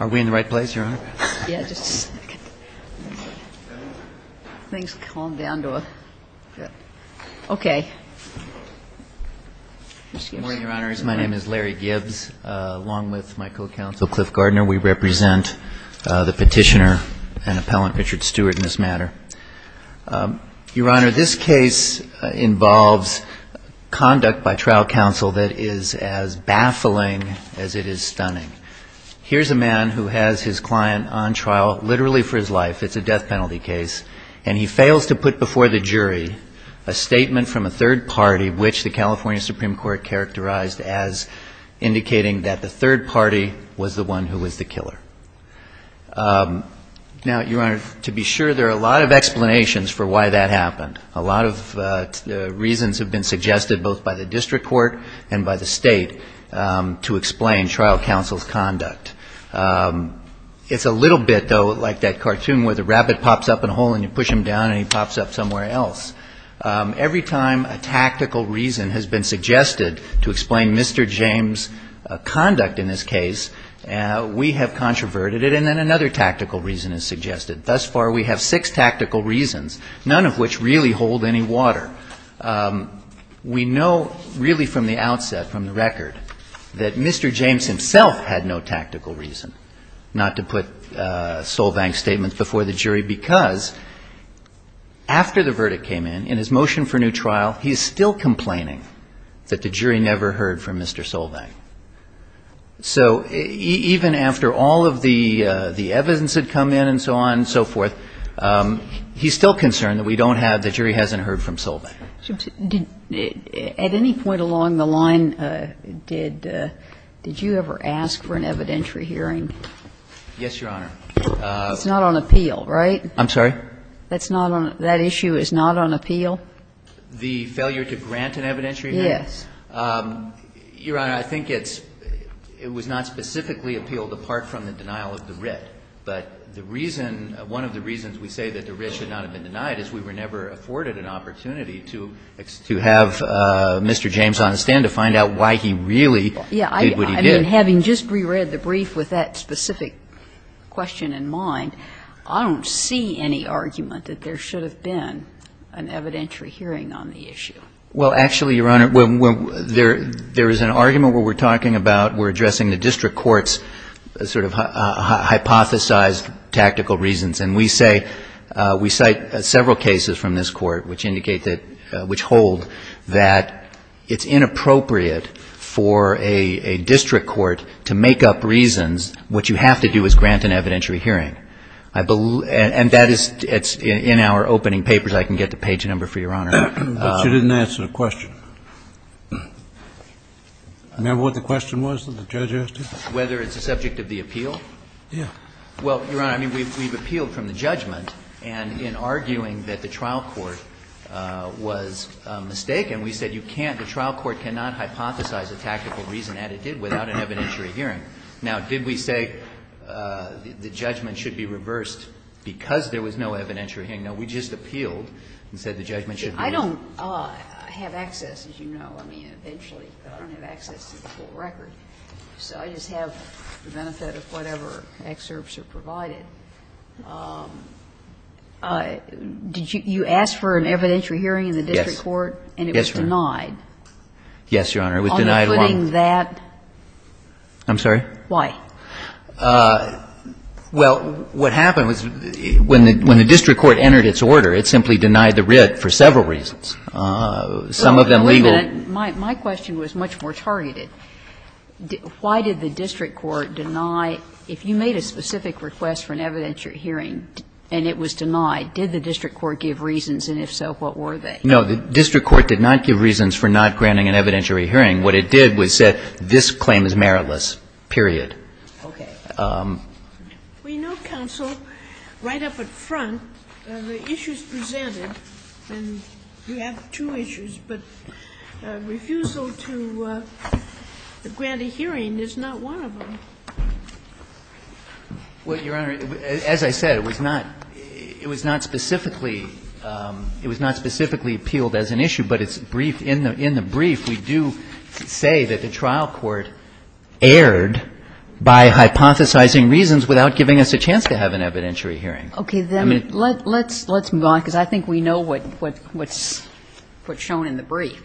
Are we in the right place, Your Honor? Good morning, Your Honors. My name is Larry Gibbs. Along with my co-counsel, Cliff Gardner, we represent the petitioner and appellant, Richard Stewart, in this matter. Your Honor, this case involves conduct by trial counsel that is as baffling as it is stunning. Here's a man who has his client on trial literally for his life. It's a death penalty case, and he fails to put before the jury a statement from a third party which the California Supreme Court characterized as indicating that the third party was the one who was the killer. Now, Your Honor, to be sure, there are a lot of explanations for why that happened. A lot of reasons have been suggested both by the district court and by the state to explain trial counsel's conduct. It's a little bit, though, like that cartoon where the rabbit pops up in a hole and you push him down and he pops up somewhere else. Every time a tactical reason has been suggested to explain Mr. James' conduct in this case, we have controverted it, and then another tactical reason is suggested. Thus far, we have six tactical reasons, none of which really hold any water. We know really from the outset, from the record, that Mr. James himself had no tactical reason not to put Solvang's statements before the jury because after the verdict came in, in his motion for new trial, he is still complaining that the jury never heard from Mr. Solvang. So even after all of the evidence had come in and so on and so forth, he's still concerned that we don't have the jury hasn't heard from Solvang. At any point along the line, did you ever ask for an evidentiary hearing? Yes, Your Honor. It's not on appeal, right? I'm sorry? That issue is not on appeal? The failure to grant an evidentiary hearing? Yes. Your Honor, I think it's — it was not specifically appealed apart from the denial of the writ. But the reason — one of the reasons we say that the writ should not have been denied is we were never afforded an opportunity to have Mr. James on the stand to find out why he really did what he did. I mean, having just reread the brief with that specific question in mind, I don't see any argument that there should have been an evidentiary hearing on the issue. Well, actually, Your Honor, there is an argument where we're talking about — we're addressing the district court's sort of hypothesized tactical reasons. And we say — we cite several cases from this court which indicate that — which hold that it's inappropriate for a district court to make up reasons what you have to do is grant an evidentiary hearing. And that is — it's in our opening papers. I can get the page number for Your Honor. But you didn't answer the question. Remember what the question was that the judge asked you? Whether it's a subject of the appeal? Yes. Well, Your Honor, I mean, we've appealed from the judgment. And in arguing that the trial court was mistaken, we said you can't — the trial court cannot hypothesize a tactical reason that it did without an evidentiary hearing. Now, did we say the judgment should be reversed because there was no evidentiary hearing? No, we just appealed and said the judgment should be reversed. I don't have access, as you know, I mean, eventually. I don't have access to the full record. So I just have the benefit of whatever excerpts are provided. Did you ask for an evidentiary hearing in the district court? Yes. And it was denied? Yes, Your Honor. It was denied one. On the footing that? I'm sorry? Why? Well, what happened was when the district court entered its order, it simply denied the writ for several reasons, some of them legal. My question was much more targeted. Why did the district court deny — if you made a specific request for an evidentiary hearing and it was denied, did the district court give reasons? And if so, what were they? No. The district court did not give reasons for not granting an evidentiary hearing. What it did was said this claim is meritless, period. Okay. We know, counsel, right up at front, the issues presented. And you have two issues. But refusal to grant a hearing is not one of them. Well, Your Honor, as I said, it was not — it was not specifically — it was not specifically appealed as an issue. But it's briefed — in the brief, we do say that the trial court erred by hypothesizing reasons without giving us a chance to have an evidentiary hearing. Okay. Then let's move on, because I think we know what's shown in the brief.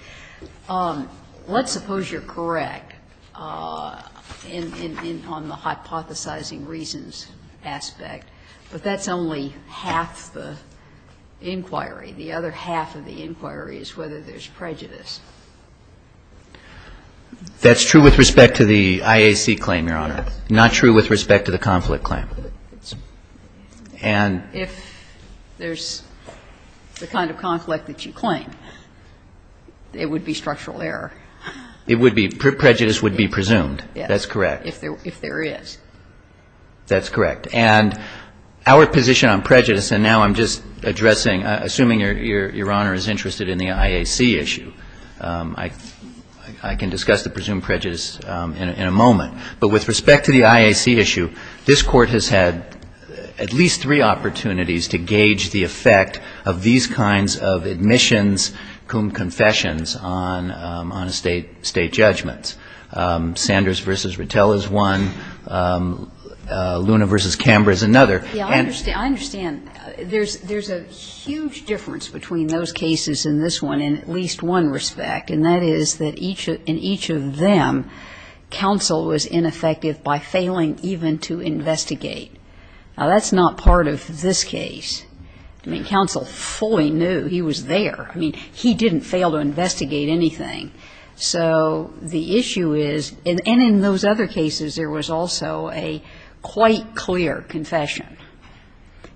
Let's suppose you're correct on the hypothesizing reasons aspect, but that's only half the inquiry. The other half of the inquiry is whether there's prejudice. That's true with respect to the IAC claim, Your Honor. Not true with respect to the conflict claim. And if there's the kind of conflict that you claim, it would be structural error. It would be — prejudice would be presumed. Yes. That's correct. If there is. That's correct. And our position on prejudice — and now I'm just addressing — assuming Your Honor is interested in the IAC issue. I can discuss the presumed prejudice in a moment. But with respect to the IAC issue, this Court has had at least three opportunities to gauge the effect of these kinds of admissions cum confessions on a State judgment. I mean, there's a huge difference between those cases and this one in at least one respect. And that is that in each of them, counsel was ineffective by failing even to investigate. Now, that's not part of this case. I mean, counsel fully knew he was there. I mean, he didn't fail to investigate anything. So the issue is — and in those other cases, there was also a quite clear confession.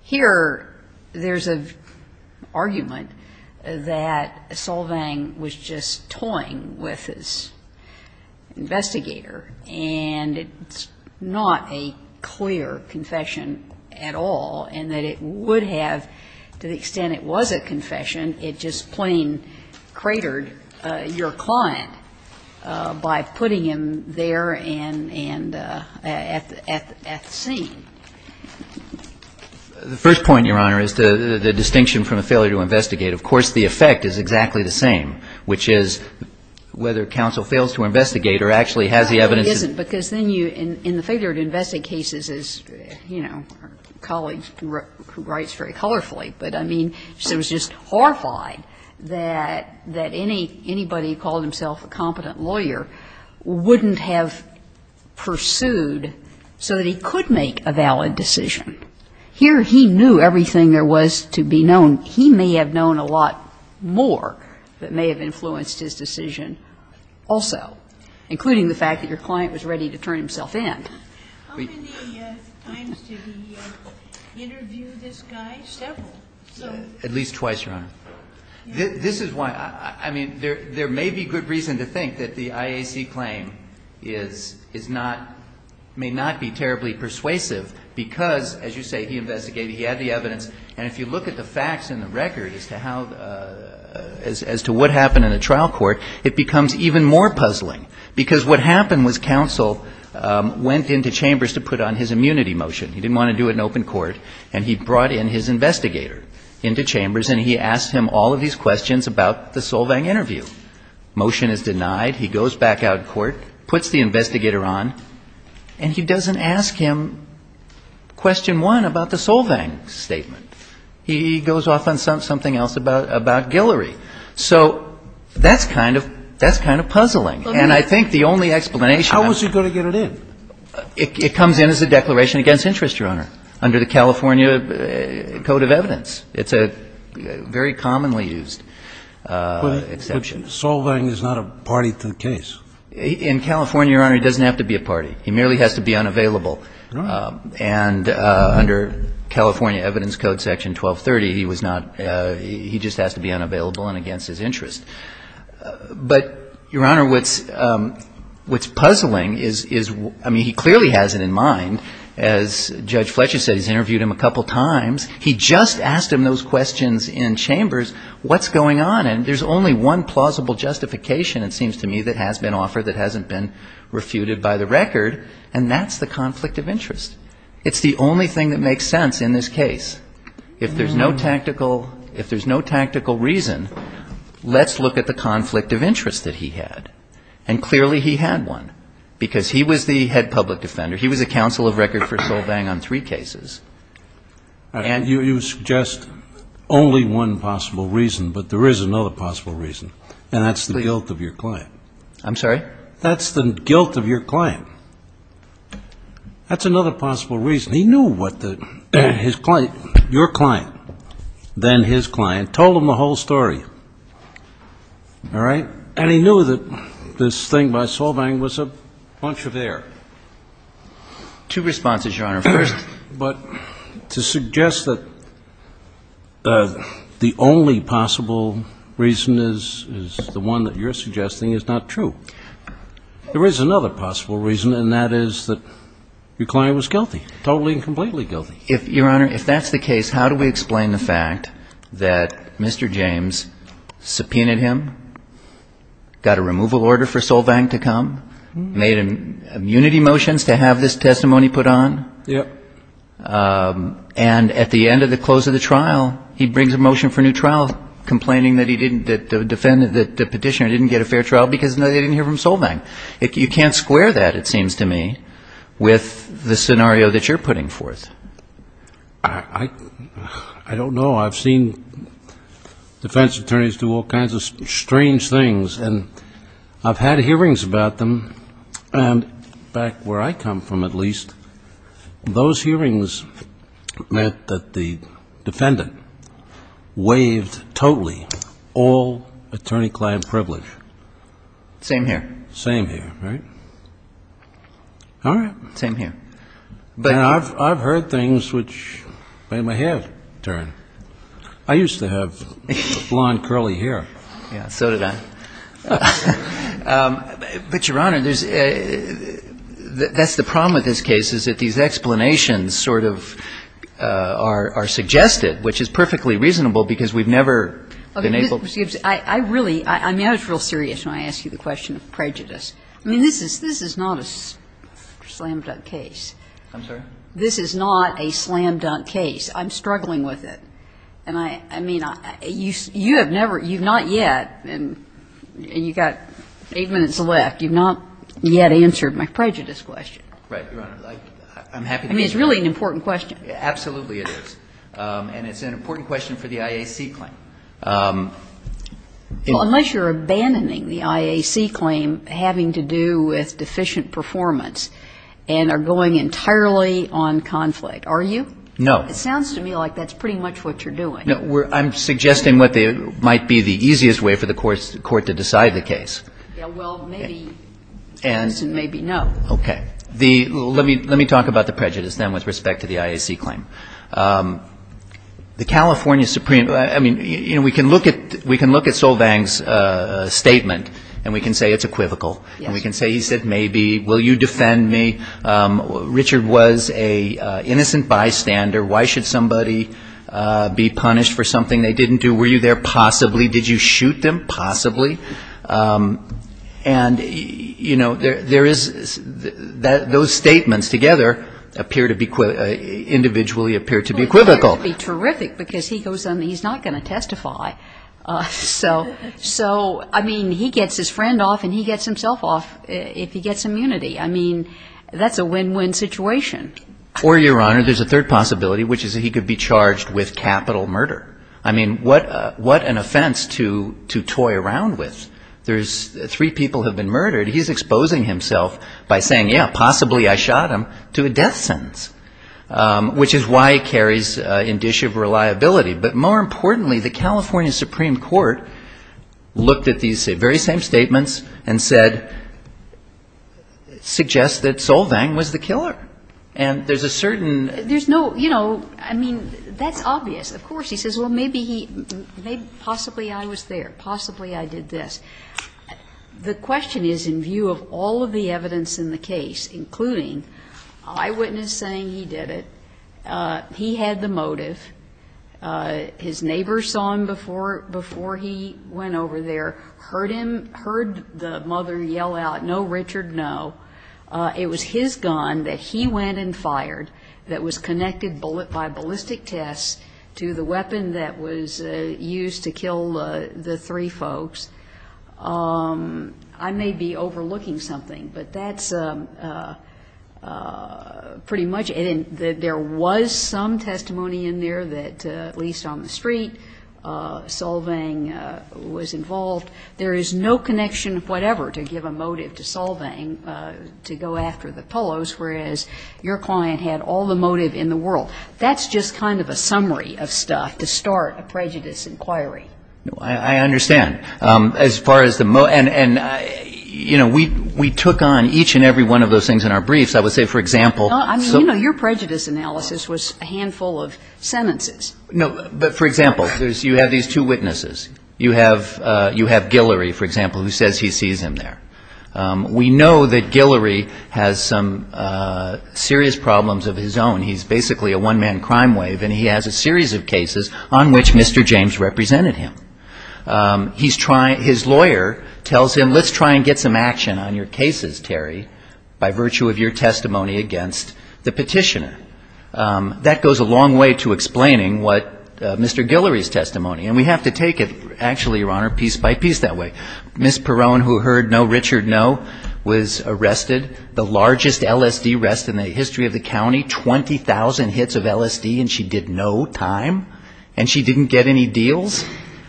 Here, there's an argument that Solvang was just toying with his investigator, and it's not a clear confession at all, and that it would have — to the extent it was a confession, it just plain cratered your client by putting him there and at the scene. The first point, Your Honor, is the distinction from a failure to investigate. Of course, the effect is exactly the same, which is whether counsel fails to investigate or actually has the evidence. No, it isn't, because then you — in the failure to investigate cases, as, you know, our colleague who writes very colorfully. But, I mean, she was just horrified that anybody who called himself a competent lawyer wouldn't have pursued so that he could make a valid decision. Here, he knew everything there was to be known. He may have known a lot more that may have influenced his decision also, including the fact that your client was ready to turn himself in. How many times did he interview this guy? Several. At least twice, Your Honor. This is why — I mean, there may be good reason to think that the IAC claim is not — may not be terribly persuasive, because, as you say, he investigated. He had the evidence. And if you look at the facts in the record as to how — as to what happened in a trial court, it becomes even more puzzling. Because what happened was counsel went into chambers to put on his immunity motion. He didn't want to do it in open court. And he brought in his investigator into chambers, and he asked him all of these questions about the Solvang interview. Motion is denied. He goes back out in court, puts the investigator on, and he doesn't ask him question one about the Solvang statement. He goes off on something else about Guillory. So that's kind of puzzling. And I think the only explanation — How was he going to get it in? It comes in as a declaration against interest, Your Honor, under the California Code of Evidence. It's a very commonly used exception. But Solvang is not a party to the case. In California, Your Honor, he doesn't have to be a party. He merely has to be unavailable. Right. And under California Evidence Code Section 1230, he was not — he just has to be unavailable and against his interest. But, Your Honor, what's puzzling is — I mean, he clearly has it in mind. As Judge Fletcher said, he's interviewed him a couple times. He just asked him those questions in chambers. What's going on? And there's only one plausible justification, it seems to me, that has been offered that hasn't been refuted by the record, and that's the conflict of interest. It's the only thing that makes sense in this case. If there's no tactical reason, let's look at the conflict of interest that he had. And clearly he had one, because he was the head public defender. He was a counsel of record for Solvang on three cases. You suggest only one possible reason, but there is another possible reason, and that's the guilt of your client. I'm sorry? That's the guilt of your client. That's another possible reason. He knew what the — your client, then his client, told him the whole story. All right? And he knew that this thing by Solvang was a bunch of air. Two responses, Your Honor, first. But to suggest that the only possible reason is the one that you're suggesting is not true. There is another possible reason, and that is that your client was guilty, totally and completely guilty. Your Honor, if that's the case, how do we explain the fact that Mr. James subpoenaed him, got a removal order for Solvang to come, made immunity motions to have this testimony put on? Yep. And at the end of the close of the trial, he brings a motion for a new trial, complaining that the petitioner didn't get a fair trial because they didn't hear from Solvang. You can't square that, it seems to me, with the scenario that you're putting forth. I don't know. I've seen defense attorneys do all kinds of strange things, and I've had hearings about them. And back where I come from, at least, those hearings meant that the defendant waived totally all attorney-client privilege. Same here. Same here, right? All right. Same here. And I've heard things which made my head turn. I used to have blonde, curly hair. Yeah, so did I. But, Your Honor, that's the problem with this case, is that these explanations sort of are suggested, which is perfectly reasonable, because we've never been able to. Okay. Excuse me. I really, I mean, I was real serious when I asked you the question of prejudice. I mean, this is not a slam-dunk case. I'm sorry? This is not a slam-dunk case. I'm struggling with it. And I mean, you have never, you've not yet, and you've got eight minutes left, you've not yet answered my prejudice question. Right, Your Honor. I'm happy to answer it. I mean, it's really an important question. Absolutely it is. And it's an important question for the IAC claim. Unless you're abandoning the IAC claim having to do with deficient performance and are going entirely on conflict. Are you? It sounds to me like that's pretty much what you're doing. No, I'm suggesting what might be the easiest way for the court to decide the case. Yeah, well, maybe yes and maybe no. Okay. Let me talk about the prejudice then with respect to the IAC claim. The California Supreme, I mean, you know, we can look at Solvang's statement and we can say it's equivocal. Yes. And we can say, he said, maybe. Will you defend me? Richard was an innocent bystander. Why should somebody be punished for something they didn't do? Were you there? Possibly. Did you shoot them? Possibly. And, you know, there is, those statements together appear to be, individually appear to be equivocal. Well, that would be terrific because he goes on, he's not going to testify. So, I mean, he gets his friend off and he gets himself off if he gets immunity. I mean, that's a win-win situation. Or, Your Honor, there's a third possibility, which is that he could be charged with capital murder. I mean, what an offense to toy around with. Three people have been murdered. He's exposing himself by saying, yeah, possibly I shot him, to a death sentence, which is why he carries indicia of reliability. But more importantly, the California Supreme Court looked at these very same statements and said, suggests that Solvang was the killer. And there's a certain ‑‑ There's no, you know, I mean, that's obvious. Of course, he says, well, maybe he, possibly I was there. Possibly I did this. The question is, in view of all of the evidence in the case, including eyewitness saying he did it, he had the motive, his neighbor saw him before he went over there, heard him, heard the mother yell out, no, Richard, no. It was his gun that he went and fired that was connected by ballistic tests to the weapon that was used to kill the three folks. I may be overlooking something, but that's pretty much it. I mean, there was some testimony in there that, at least on the street, Solvang was involved. There is no connection of whatever to give a motive to Solvang to go after the Polos, whereas your client had all the motive in the world. That's just kind of a summary of stuff to start a prejudice inquiry. I understand. As far as the ‑‑ and, you know, we took on each and every one of those things in our briefs. I would say, for example ‑‑ No, I mean, you know, your prejudice analysis was a handful of sentences. No, but, for example, you have these two witnesses. You have Guillory, for example, who says he sees him there. We know that Guillory has some serious problems of his own. He's basically a one‑man crime wave, and he has a series of cases on which Mr. James represented him. His lawyer tells him, let's try and get some action on your cases, Terry, by virtue of your testimony against the petitioner. That goes a long way to explaining what Mr. Guillory's testimony, and we have to take it, actually, Your Honor, piece by piece that way. Ms. Perrone, who heard no Richard, no, was arrested. The largest LSD arrest in the history of the county, 20,000 hits of LSD, and she did no time, and she didn't get any deals.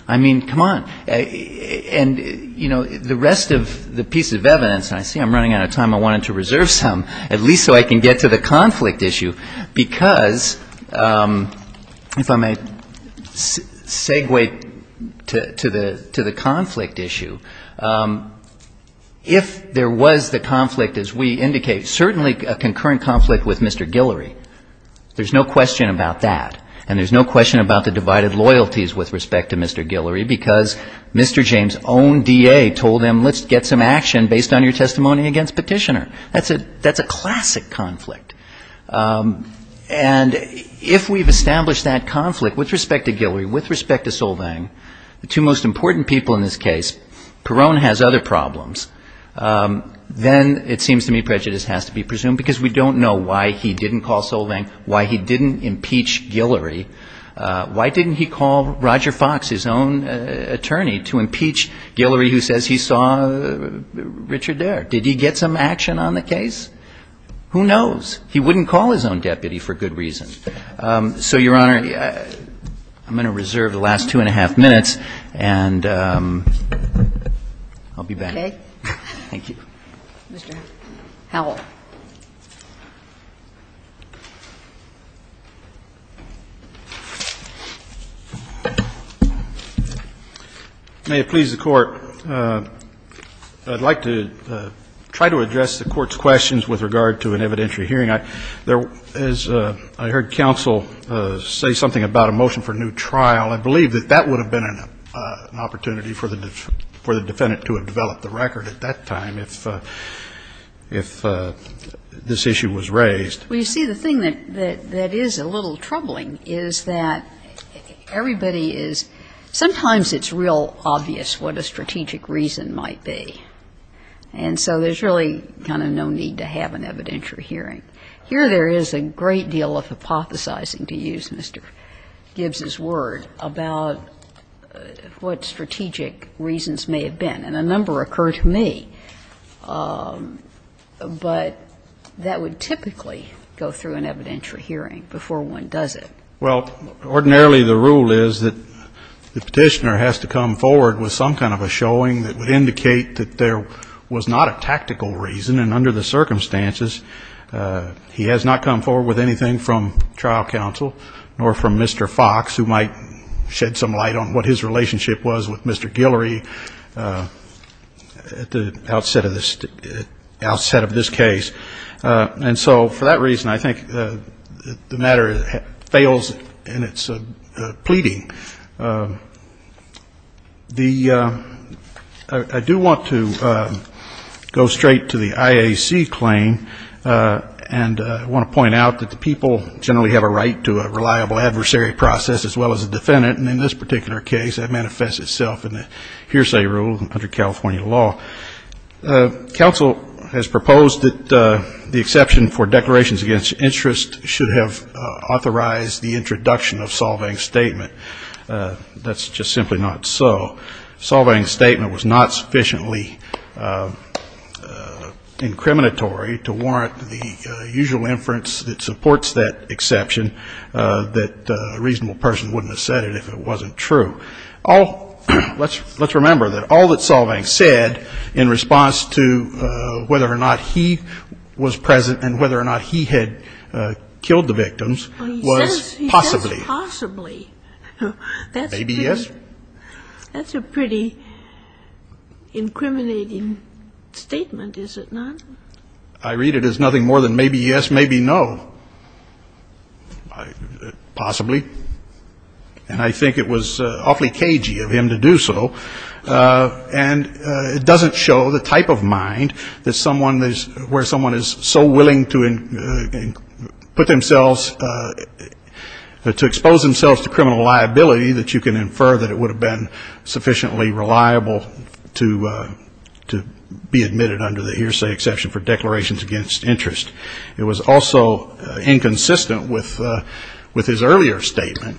I mean, come on, and, you know, the rest of the piece of evidence, and I see I'm running out of time. I wanted to reserve some, at least so I can get to the conflict issue, because, if I may segue to the conflict issue, if there was the conflict, as we indicate, certainly a concurrent conflict with Mr. Guillory, there's no question about that, and there's no question about the divided loyalties with respect to Mr. Guillory. Because Mr. James' own DA told him, let's get some action based on your testimony against the petitioner. That's a classic conflict. And if we've established that conflict with respect to Guillory, with respect to Solvang, the two most important people in this case, Perrone has other problems. Then it seems to me prejudice has to be presumed, because we don't know why he didn't call Solvang, why he didn't impeach Guillory, why didn't he call Roger Fox, his own DA, and why didn't he call Mr. Perrone? Why didn't he call the attorney to impeach Guillory who says he saw Richard there? Did he get some action on the case? Who knows? He wouldn't call his own deputy for good reason. So, Your Honor, I'm going to reserve the last two and a half minutes, and I'll be back. Thank you. Mr. Howell. May it please the Court, I'd like to try to address the Court's questions with regard to an evidentiary hearing. As I heard counsel say something about a motion for new trial, I believe that that would have been an opportunity for the defendant to have developed a record at that time if this issue was raised. Well, you see, the thing that is a little troubling is that everybody is, sometimes it's real obvious what a strategic reason might be. And so there's really kind of no need to have an evidentiary hearing. Here there is a great deal of hypothesizing, to use Mr. Gibbs's word, about what strategic reasons may have been. And a number occur to me. But that would typically go through an evidentiary hearing before one does it. Well, ordinarily the rule is that the Petitioner has to come forward with some kind of a showing that would indicate that there was not a tactical reason, and under the circumstances, he has not come forward with anything from trial counsel nor from Mr. Fox, who might shed some light on what his relationship was with Mr. Guillory at the outset of this case. And so for that reason, I think the matter fails in its pleading. I do want to go straight to the IAC claim. And I want to point out that the people generally have a right to a reliable adversary process as well as a defendant. And in this particular case, that manifests itself in the hearsay rule under California law. Counsel has proposed that the exception for declarations against interest should have authorized the introduction of Solvang's statement. That's just simply not so. Solvang's statement was not sufficiently incriminatory to warrant the usual inference that supports that exception that a reasonable person wouldn't have said it if it wasn't true. Let's remember that all that Solvang said in response to whether or not he was present and whether or not he had killed the victims was possibly. He says possibly. Maybe yes. That's a pretty incriminating statement, is it not? I read it as nothing more than maybe yes, maybe no. Possibly. And I think it was awfully cagey of him to do so. And it doesn't show the type of mind where someone is so willing to put themselves, to expose themselves to criminal liability that you can infer that it would have been sufficiently reliable to be admitted under the hearsay exception for declarations against interest. It was also inconsistent with his earlier statement.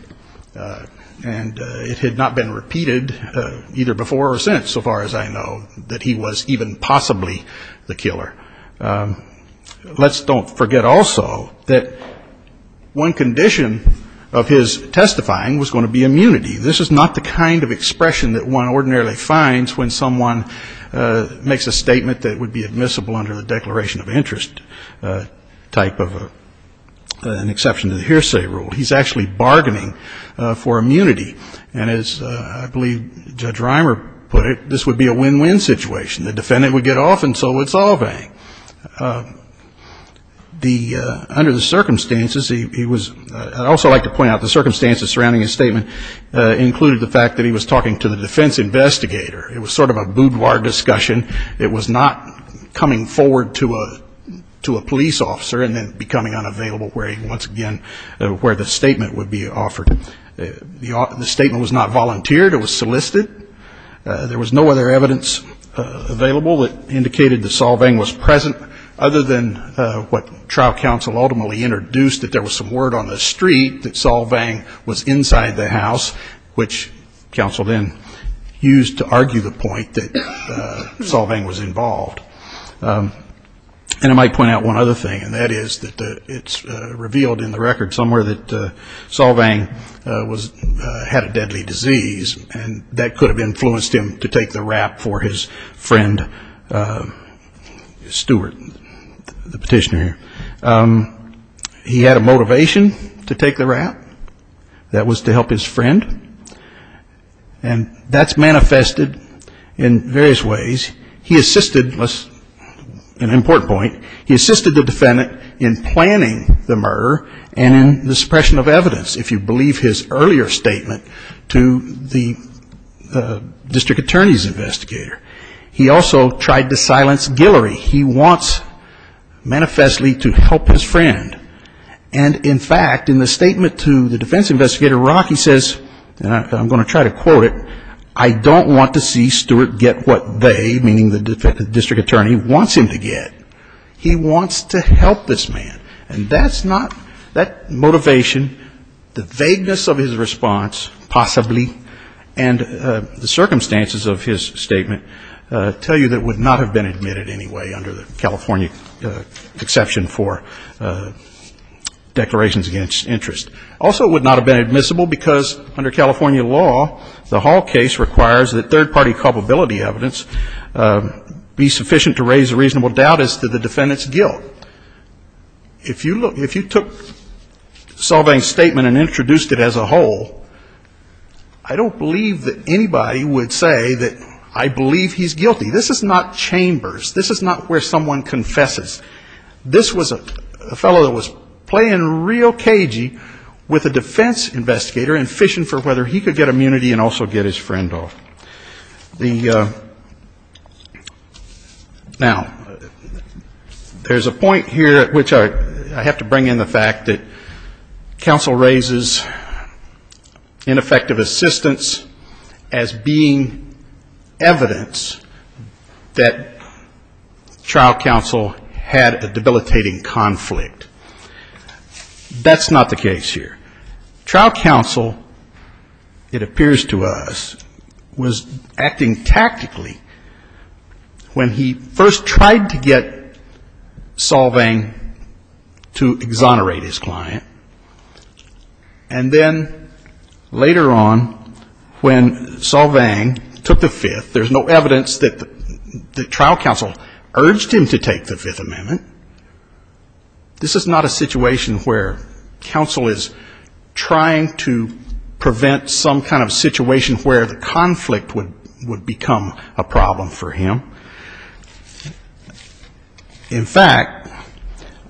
And it had not been repeated either before or since, so far as I know, that he was even possibly the killer. Let's don't forget also that one condition of his testifying was going to be immunity. This is not the kind of expression that one ordinarily finds when someone makes a statement that would be admissible under the declaration of interest type of an exception to the hearsay rule. He's actually bargaining for immunity. And as I believe Judge Reimer put it, this would be a win-win situation. The defendant would get off and so would Solvang. Under the circumstances, he was also like to point out the circumstances surrounding his statement included the fact that he was talking to the defense investigator. It was sort of a boudoir discussion. It was not coming forward to a police officer and then becoming unavailable where once again where the statement would be offered. The statement was not volunteered. It was solicited. There was no other evidence available that indicated that Solvang was present, other than what trial counsel ultimately introduced, that there was some word on the street that Solvang was inside the house, which counsel then used to argue the point that Solvang was involved. And I might point out one other thing, and that is that it's revealed in the record somewhere that Solvang had a deadly disease and that could have influenced him to take the rap for his friend Stewart, the petitioner. He had a motivation to take the rap. That was to help his friend. And that's manifested in various ways. He assisted, an important point, he assisted the defendant in planning the murder and in the suppression of evidence, if you believe his earlier statement to the district attorney's investigator. He also tried to silence Guillory. He wants manifestly to help his friend. And, in fact, in the statement to the defense investigator, he says, and I'm going to try to quote it, I don't want to see Stewart get what they, meaning the district attorney, wants him to get. He wants to help this man. And that's not, that motivation, the vagueness of his response, possibly, and the circumstances of his statement tell you that it would not have been admitted anyway, under the California exception for declarations against interest. Also, it would not have been admissible because, under California law, the Hall case requires that third-party culpability evidence be sufficient to raise a reasonable doubt as to the defendant's guilt. If you took Solvang's statement and introduced it as a whole, I don't believe that anybody would say that I believe he's guilty. This is not chambers. This is not where someone confesses. This was a fellow that was playing real cagey with a defense investigator and fishing for whether he could get immunity and also get his friend off. Now, there's a point here at which I have to bring in the fact that counsel raises ineffective assistance as being evidence that trial counsel had a debilitating conflict. That's not the case here. Trial counsel, it appears to us, was acting tactically when he first tried to get Solvang to exonerate his client, and then later on, when Solvang took the Fifth, there's no evidence that the trial counsel urged him to take the Fifth Amendment. This is not a situation where counsel is trying to prevent some kind of situation where the conflict would become a problem for him. In fact,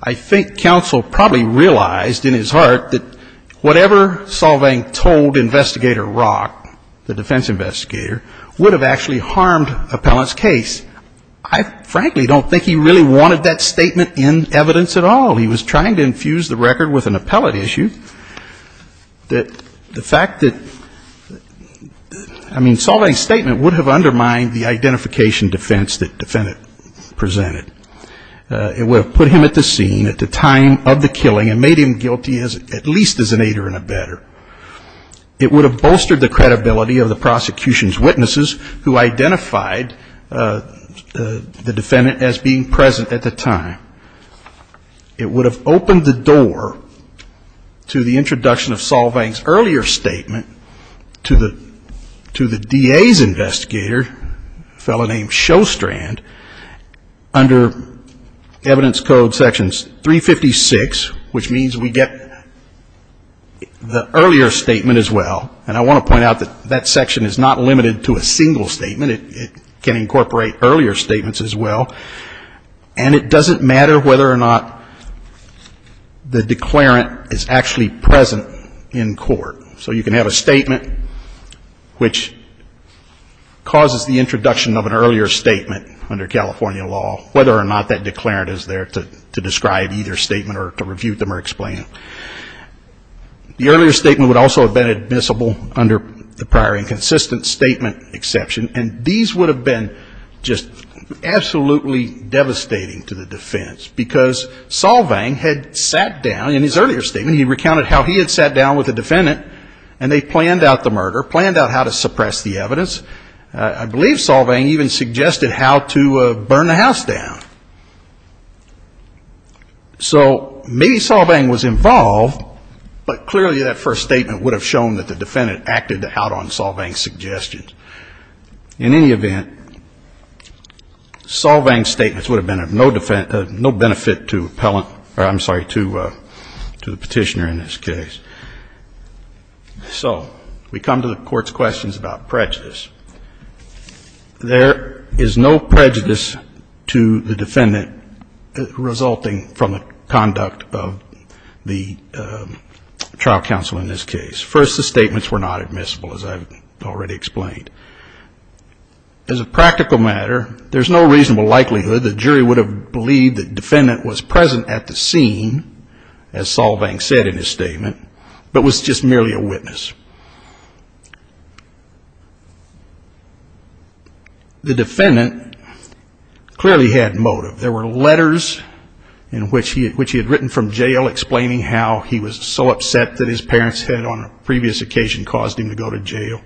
I think counsel probably realized in his heart that whatever Solvang told Investigator Rock, the defense investigator, would have actually harmed Appellant's case. I frankly don't think he really wanted that statement in evidence at all. He was trying to infuse the record with an appellate issue that the fact that, I mean, the identification defense that the defendant presented, it would have put him at the scene at the time of the killing and made him guilty at least as an aider and a better. It would have bolstered the credibility of the prosecution's witnesses who identified the defendant as being present at the time. It would have opened the door to the introduction of Solvang's earlier statement to the DA's investigator, a fellow named Shostrand, under evidence code sections 356, which means we get the earlier statement as well. And I want to point out that that section is not limited to a single statement. It can incorporate earlier statements as well. And it doesn't matter whether or not the declarant is actually present in court. So you can have a statement which causes the introduction of an earlier statement under California law, whether or not that declarant is there to describe either statement or to review them or explain. The earlier statement would also have been admissible under the prior inconsistent statement exception. And these would have been just absolutely devastating to the defense, because Solvang had sat down in his earlier statement, he recounted how he had sat down with the defendant, and they planned out the murder, planned out how to suppress the evidence. I believe Solvang even suggested how to burn the house down. So maybe Solvang was involved, but clearly that first statement would have shown that the defendant acted out on Solvang's suggestions. In any event, Solvang's statements would have been of no benefit to the petitioner in this case. So we come to the Court's questions about prejudice. There is no prejudice to the defendant resulting from the conduct of the trial counsel in this case. First, the statements were not admissible, as I've already explained. As a practical matter, there's no reasonable likelihood the jury would have believed the defendant was present at the scene, as Solvang said in his statement, but was just merely a witness. The defendant clearly had motive. There were letters in which he had written from jail explaining how he was so upset that his parents had, on a previous occasion, caused him to go to jail.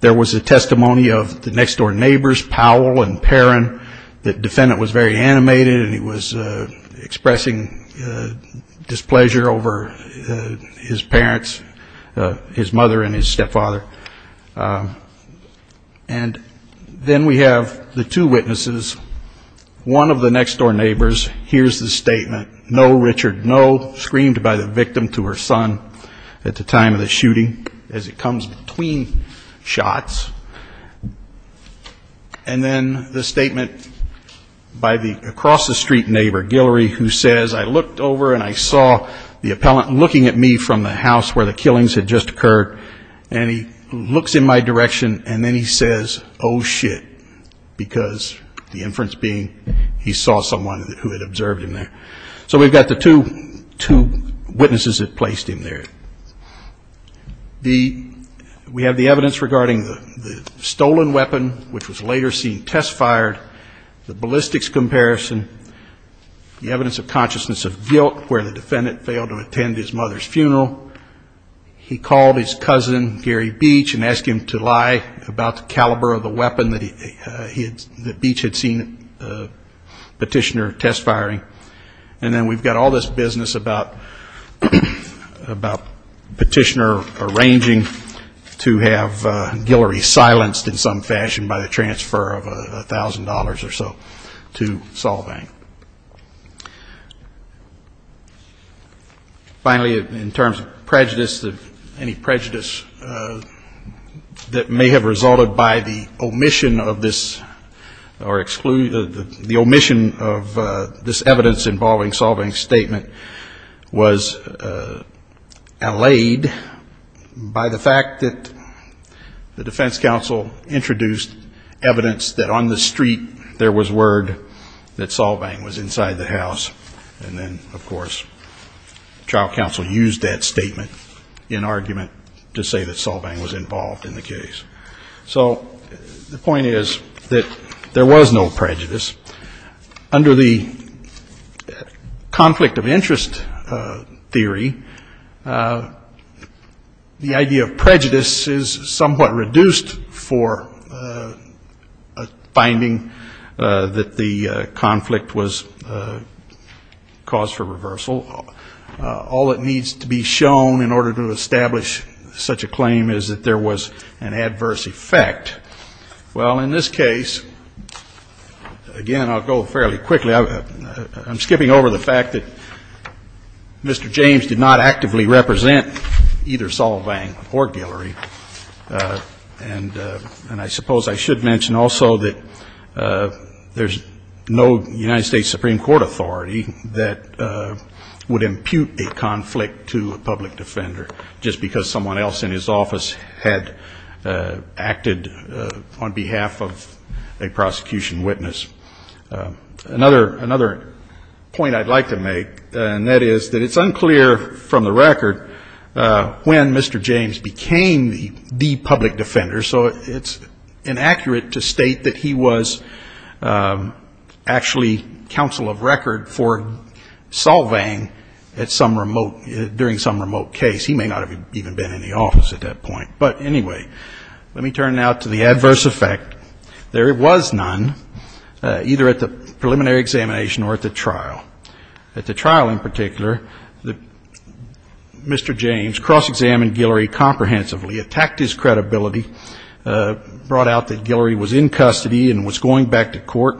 There was a testimony of the next-door neighbors, Powell and Perrin, that the defendant was very animated and he was expressing displeasure over his parents, his mother and his stepfather. And then we have the two witnesses. One of the next-door neighbors hears the statement, No, Richard, no, screamed by the victim to her son at the time of the shooting, as it comes between shots. And then the statement by the across-the-street neighbor, Guillory, who says, I looked over and I saw the appellant looking at me from the house where the killings had just occurred, and he looks in my direction and then he says, Oh, shit, because the inference being he saw someone who had observed him there. So we've got the two witnesses that placed him there. We have the evidence regarding the stolen weapon, which was later seen test-fired, the ballistics comparison, the evidence of consciousness of guilt where the defendant failed to attend his mother's funeral. He called his cousin, Gary Beach, and asked him to lie about the caliber of the weapon that Beach had seen Petitioner test-firing. And then we've got all this business about Petitioner arranging to have Guillory silenced in some fashion by the transfer of $1,000 or so to Solvang. Finally, in terms of prejudice, any prejudice that may have resulted by the omission of this or the omission of this evidence involving Solvang's statement was allayed by the fact that the Defense Council introduced evidence that on the street there was word that Solvang was inside the house. And then, of course, the trial counsel used that statement in argument to say that Solvang was involved in the case. So the point is that there was no prejudice. Under the conflict of interest theory, the idea of prejudice is somewhat reduced for finding that the conflict was caused for reversal. All that needs to be shown in order to establish such a claim is that there was an adverse effect. Well, in this case, again, I'll go fairly quickly. I'm skipping over the fact that Mr. James did not actively represent either Solvang or Guillory. And I suppose I should mention also that there's no United States Supreme Court authority that would impute a conflict to a public defender just because someone else in his office had acted on behalf of a prosecution witness. Another point I'd like to make, and that is that it's unclear from the record when Mr. James became the public defender, so it's inaccurate to state that he was actually counsel of record for Solvang at some remote, during some remote case. He may not have even been in the office at that point. But anyway, let me turn now to the adverse effect. There was none, either at the preliminary examination or at the trial. At the trial in particular, Mr. James cross-examined Guillory comprehensively, attacked his credibility, brought out that Guillory was in custody and was going back to court,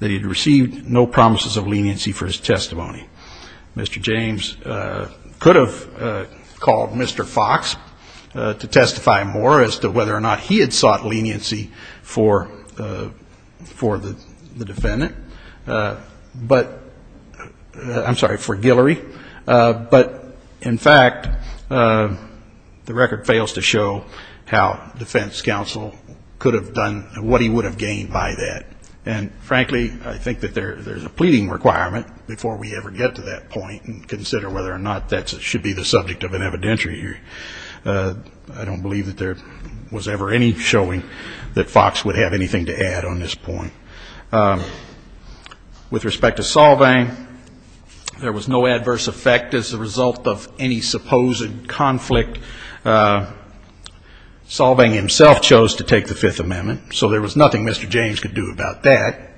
that he had received no promises of leniency for his testimony. Mr. James could have called Mr. Fox to testify more as to whether or not he had sought leniency for the defendant. But, I'm sorry, for Guillory. But, in fact, the record fails to show how defense counsel could have done what he would have gained by that. And, frankly, I think that there's a pleading requirement before we ever get to that point and consider whether or not that should be the subject of an evidentiary hearing. I don't believe that there was ever any showing that Fox would have anything to add on this point. With respect to Solvang, there was no adverse effect as a result of any supposed conflict. Solvang himself chose to take the Fifth Amendment, so there was nothing Mr. James could do about that.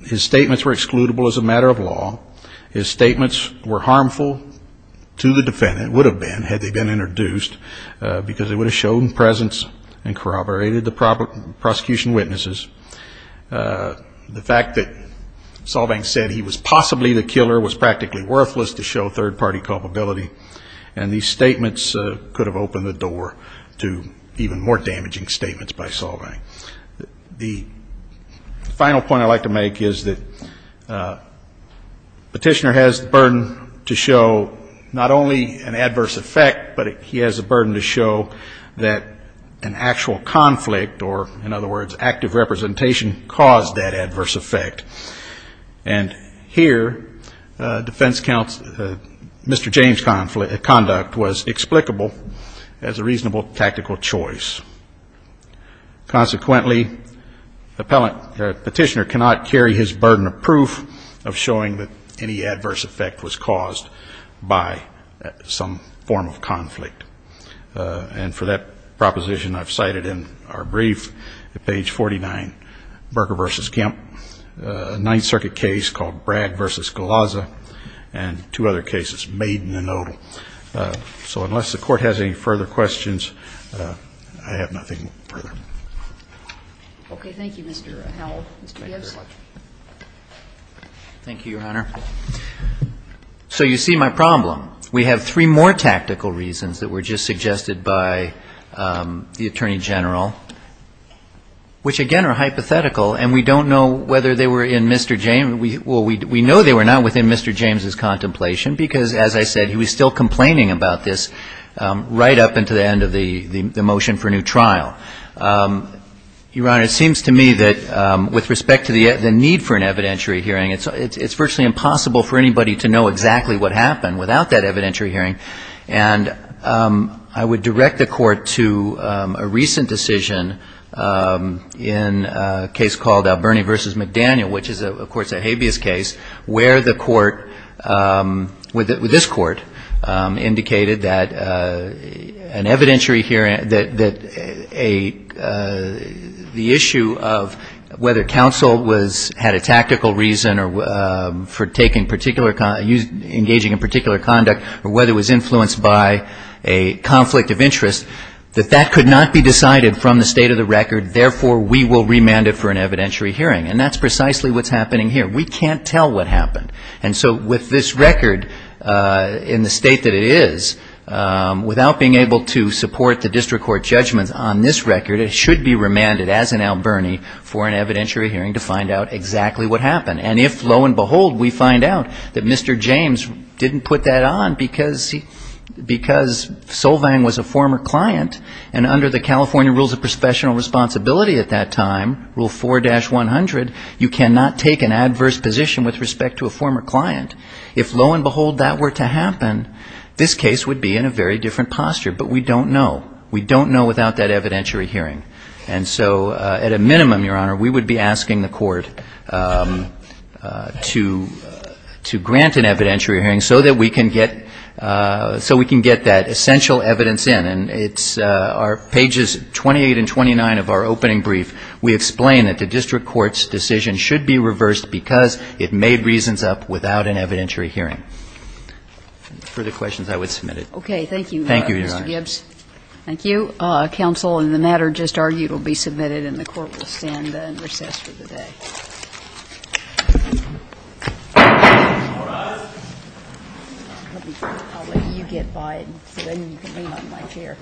His statements were excludable as a matter of law. His statements were harmful to the defendant, would have been had they been introduced, because it would have shown presence and corroborated the prosecution witnesses. The fact that Solvang said he was possibly the killer was practically worthless to show third-party culpability, and these statements could have opened the door to even more damaging statements by Solvang. The final point I'd like to make is that Petitioner has the burden to show not only an adverse effect, but he has the burden to show that an actual conflict, or, in other words, active representation, caused that adverse effect. And here, defense counsel, Mr. James' conduct was explicable as a reasonable tactical choice. Consequently, Petitioner cannot carry his burden of proof of showing that any adverse effect was caused by some form of conflict. And for that proposition, I've cited in our brief at page 49, Berger v. Kemp, a Ninth Circuit case called Bragg v. Galazza, and two other cases, Maiden v. Nodal. So unless the Court has any further questions, I have nothing further. Okay. Thank you, Mr. Howell. Mr. Gibbs. Thank you, Your Honor. So you see my problem. We have three more tactical reasons that were just suggested by the Attorney General, which, again, are hypothetical, and we don't know whether they were in Mr. James' — well, we know they were not within Mr. James' contemplation because, as I said, he was still complaining about this right up until the end of the motion for a new trial. Your Honor, it seems to me that with respect to the need for an evidentiary hearing, it's virtually impossible for anybody to know exactly what happened without that evidentiary hearing. And I would direct the Court to a recent decision in a case called Bernie v. McDaniel, which is, of course, a habeas case, where the Court, with this Court, indicated that an evidentiary hearing, that the issue of whether counsel had a tactical reason for engaging in particular conduct or whether it was influenced by a conflict of interest, that that could not be decided from the state of the record, therefore, we will remand it for an evidentiary hearing. And that's precisely what's happening here. We can't tell what happened. And so with this record in the state that it is, without being able to support the district court judgments on this record, it should be remanded as an Alberni for an evidentiary hearing to find out exactly what happened. And if, lo and behold, we find out that Mr. James didn't put that on because Solvang was a former client, and under the California rules of professional responsibility at that time, rule 4-100, you cannot take an adverse position with respect to a former client, if, lo and behold, that were to happen, this case would be in a very different posture. But we don't know. We don't know without that evidentiary hearing. And so at a minimum, Your Honor, we would be asking the Court to grant an evidentiary hearing so that we can get that essential evidence in. And it's pages 28 and 29 of our opening brief. We explain that the district court's decision should be reversed because it made reasons up without an evidentiary hearing. Further questions, I would submit it. Okay. Thank you, Mr. Gibbs. Thank you, Your Honor. Thank you. Counsel, and the matter just argued will be submitted and the Court will stand and recess for the day. All rise. I'll let you get by it and then you can lean on my chair. Thank you, Your Honor.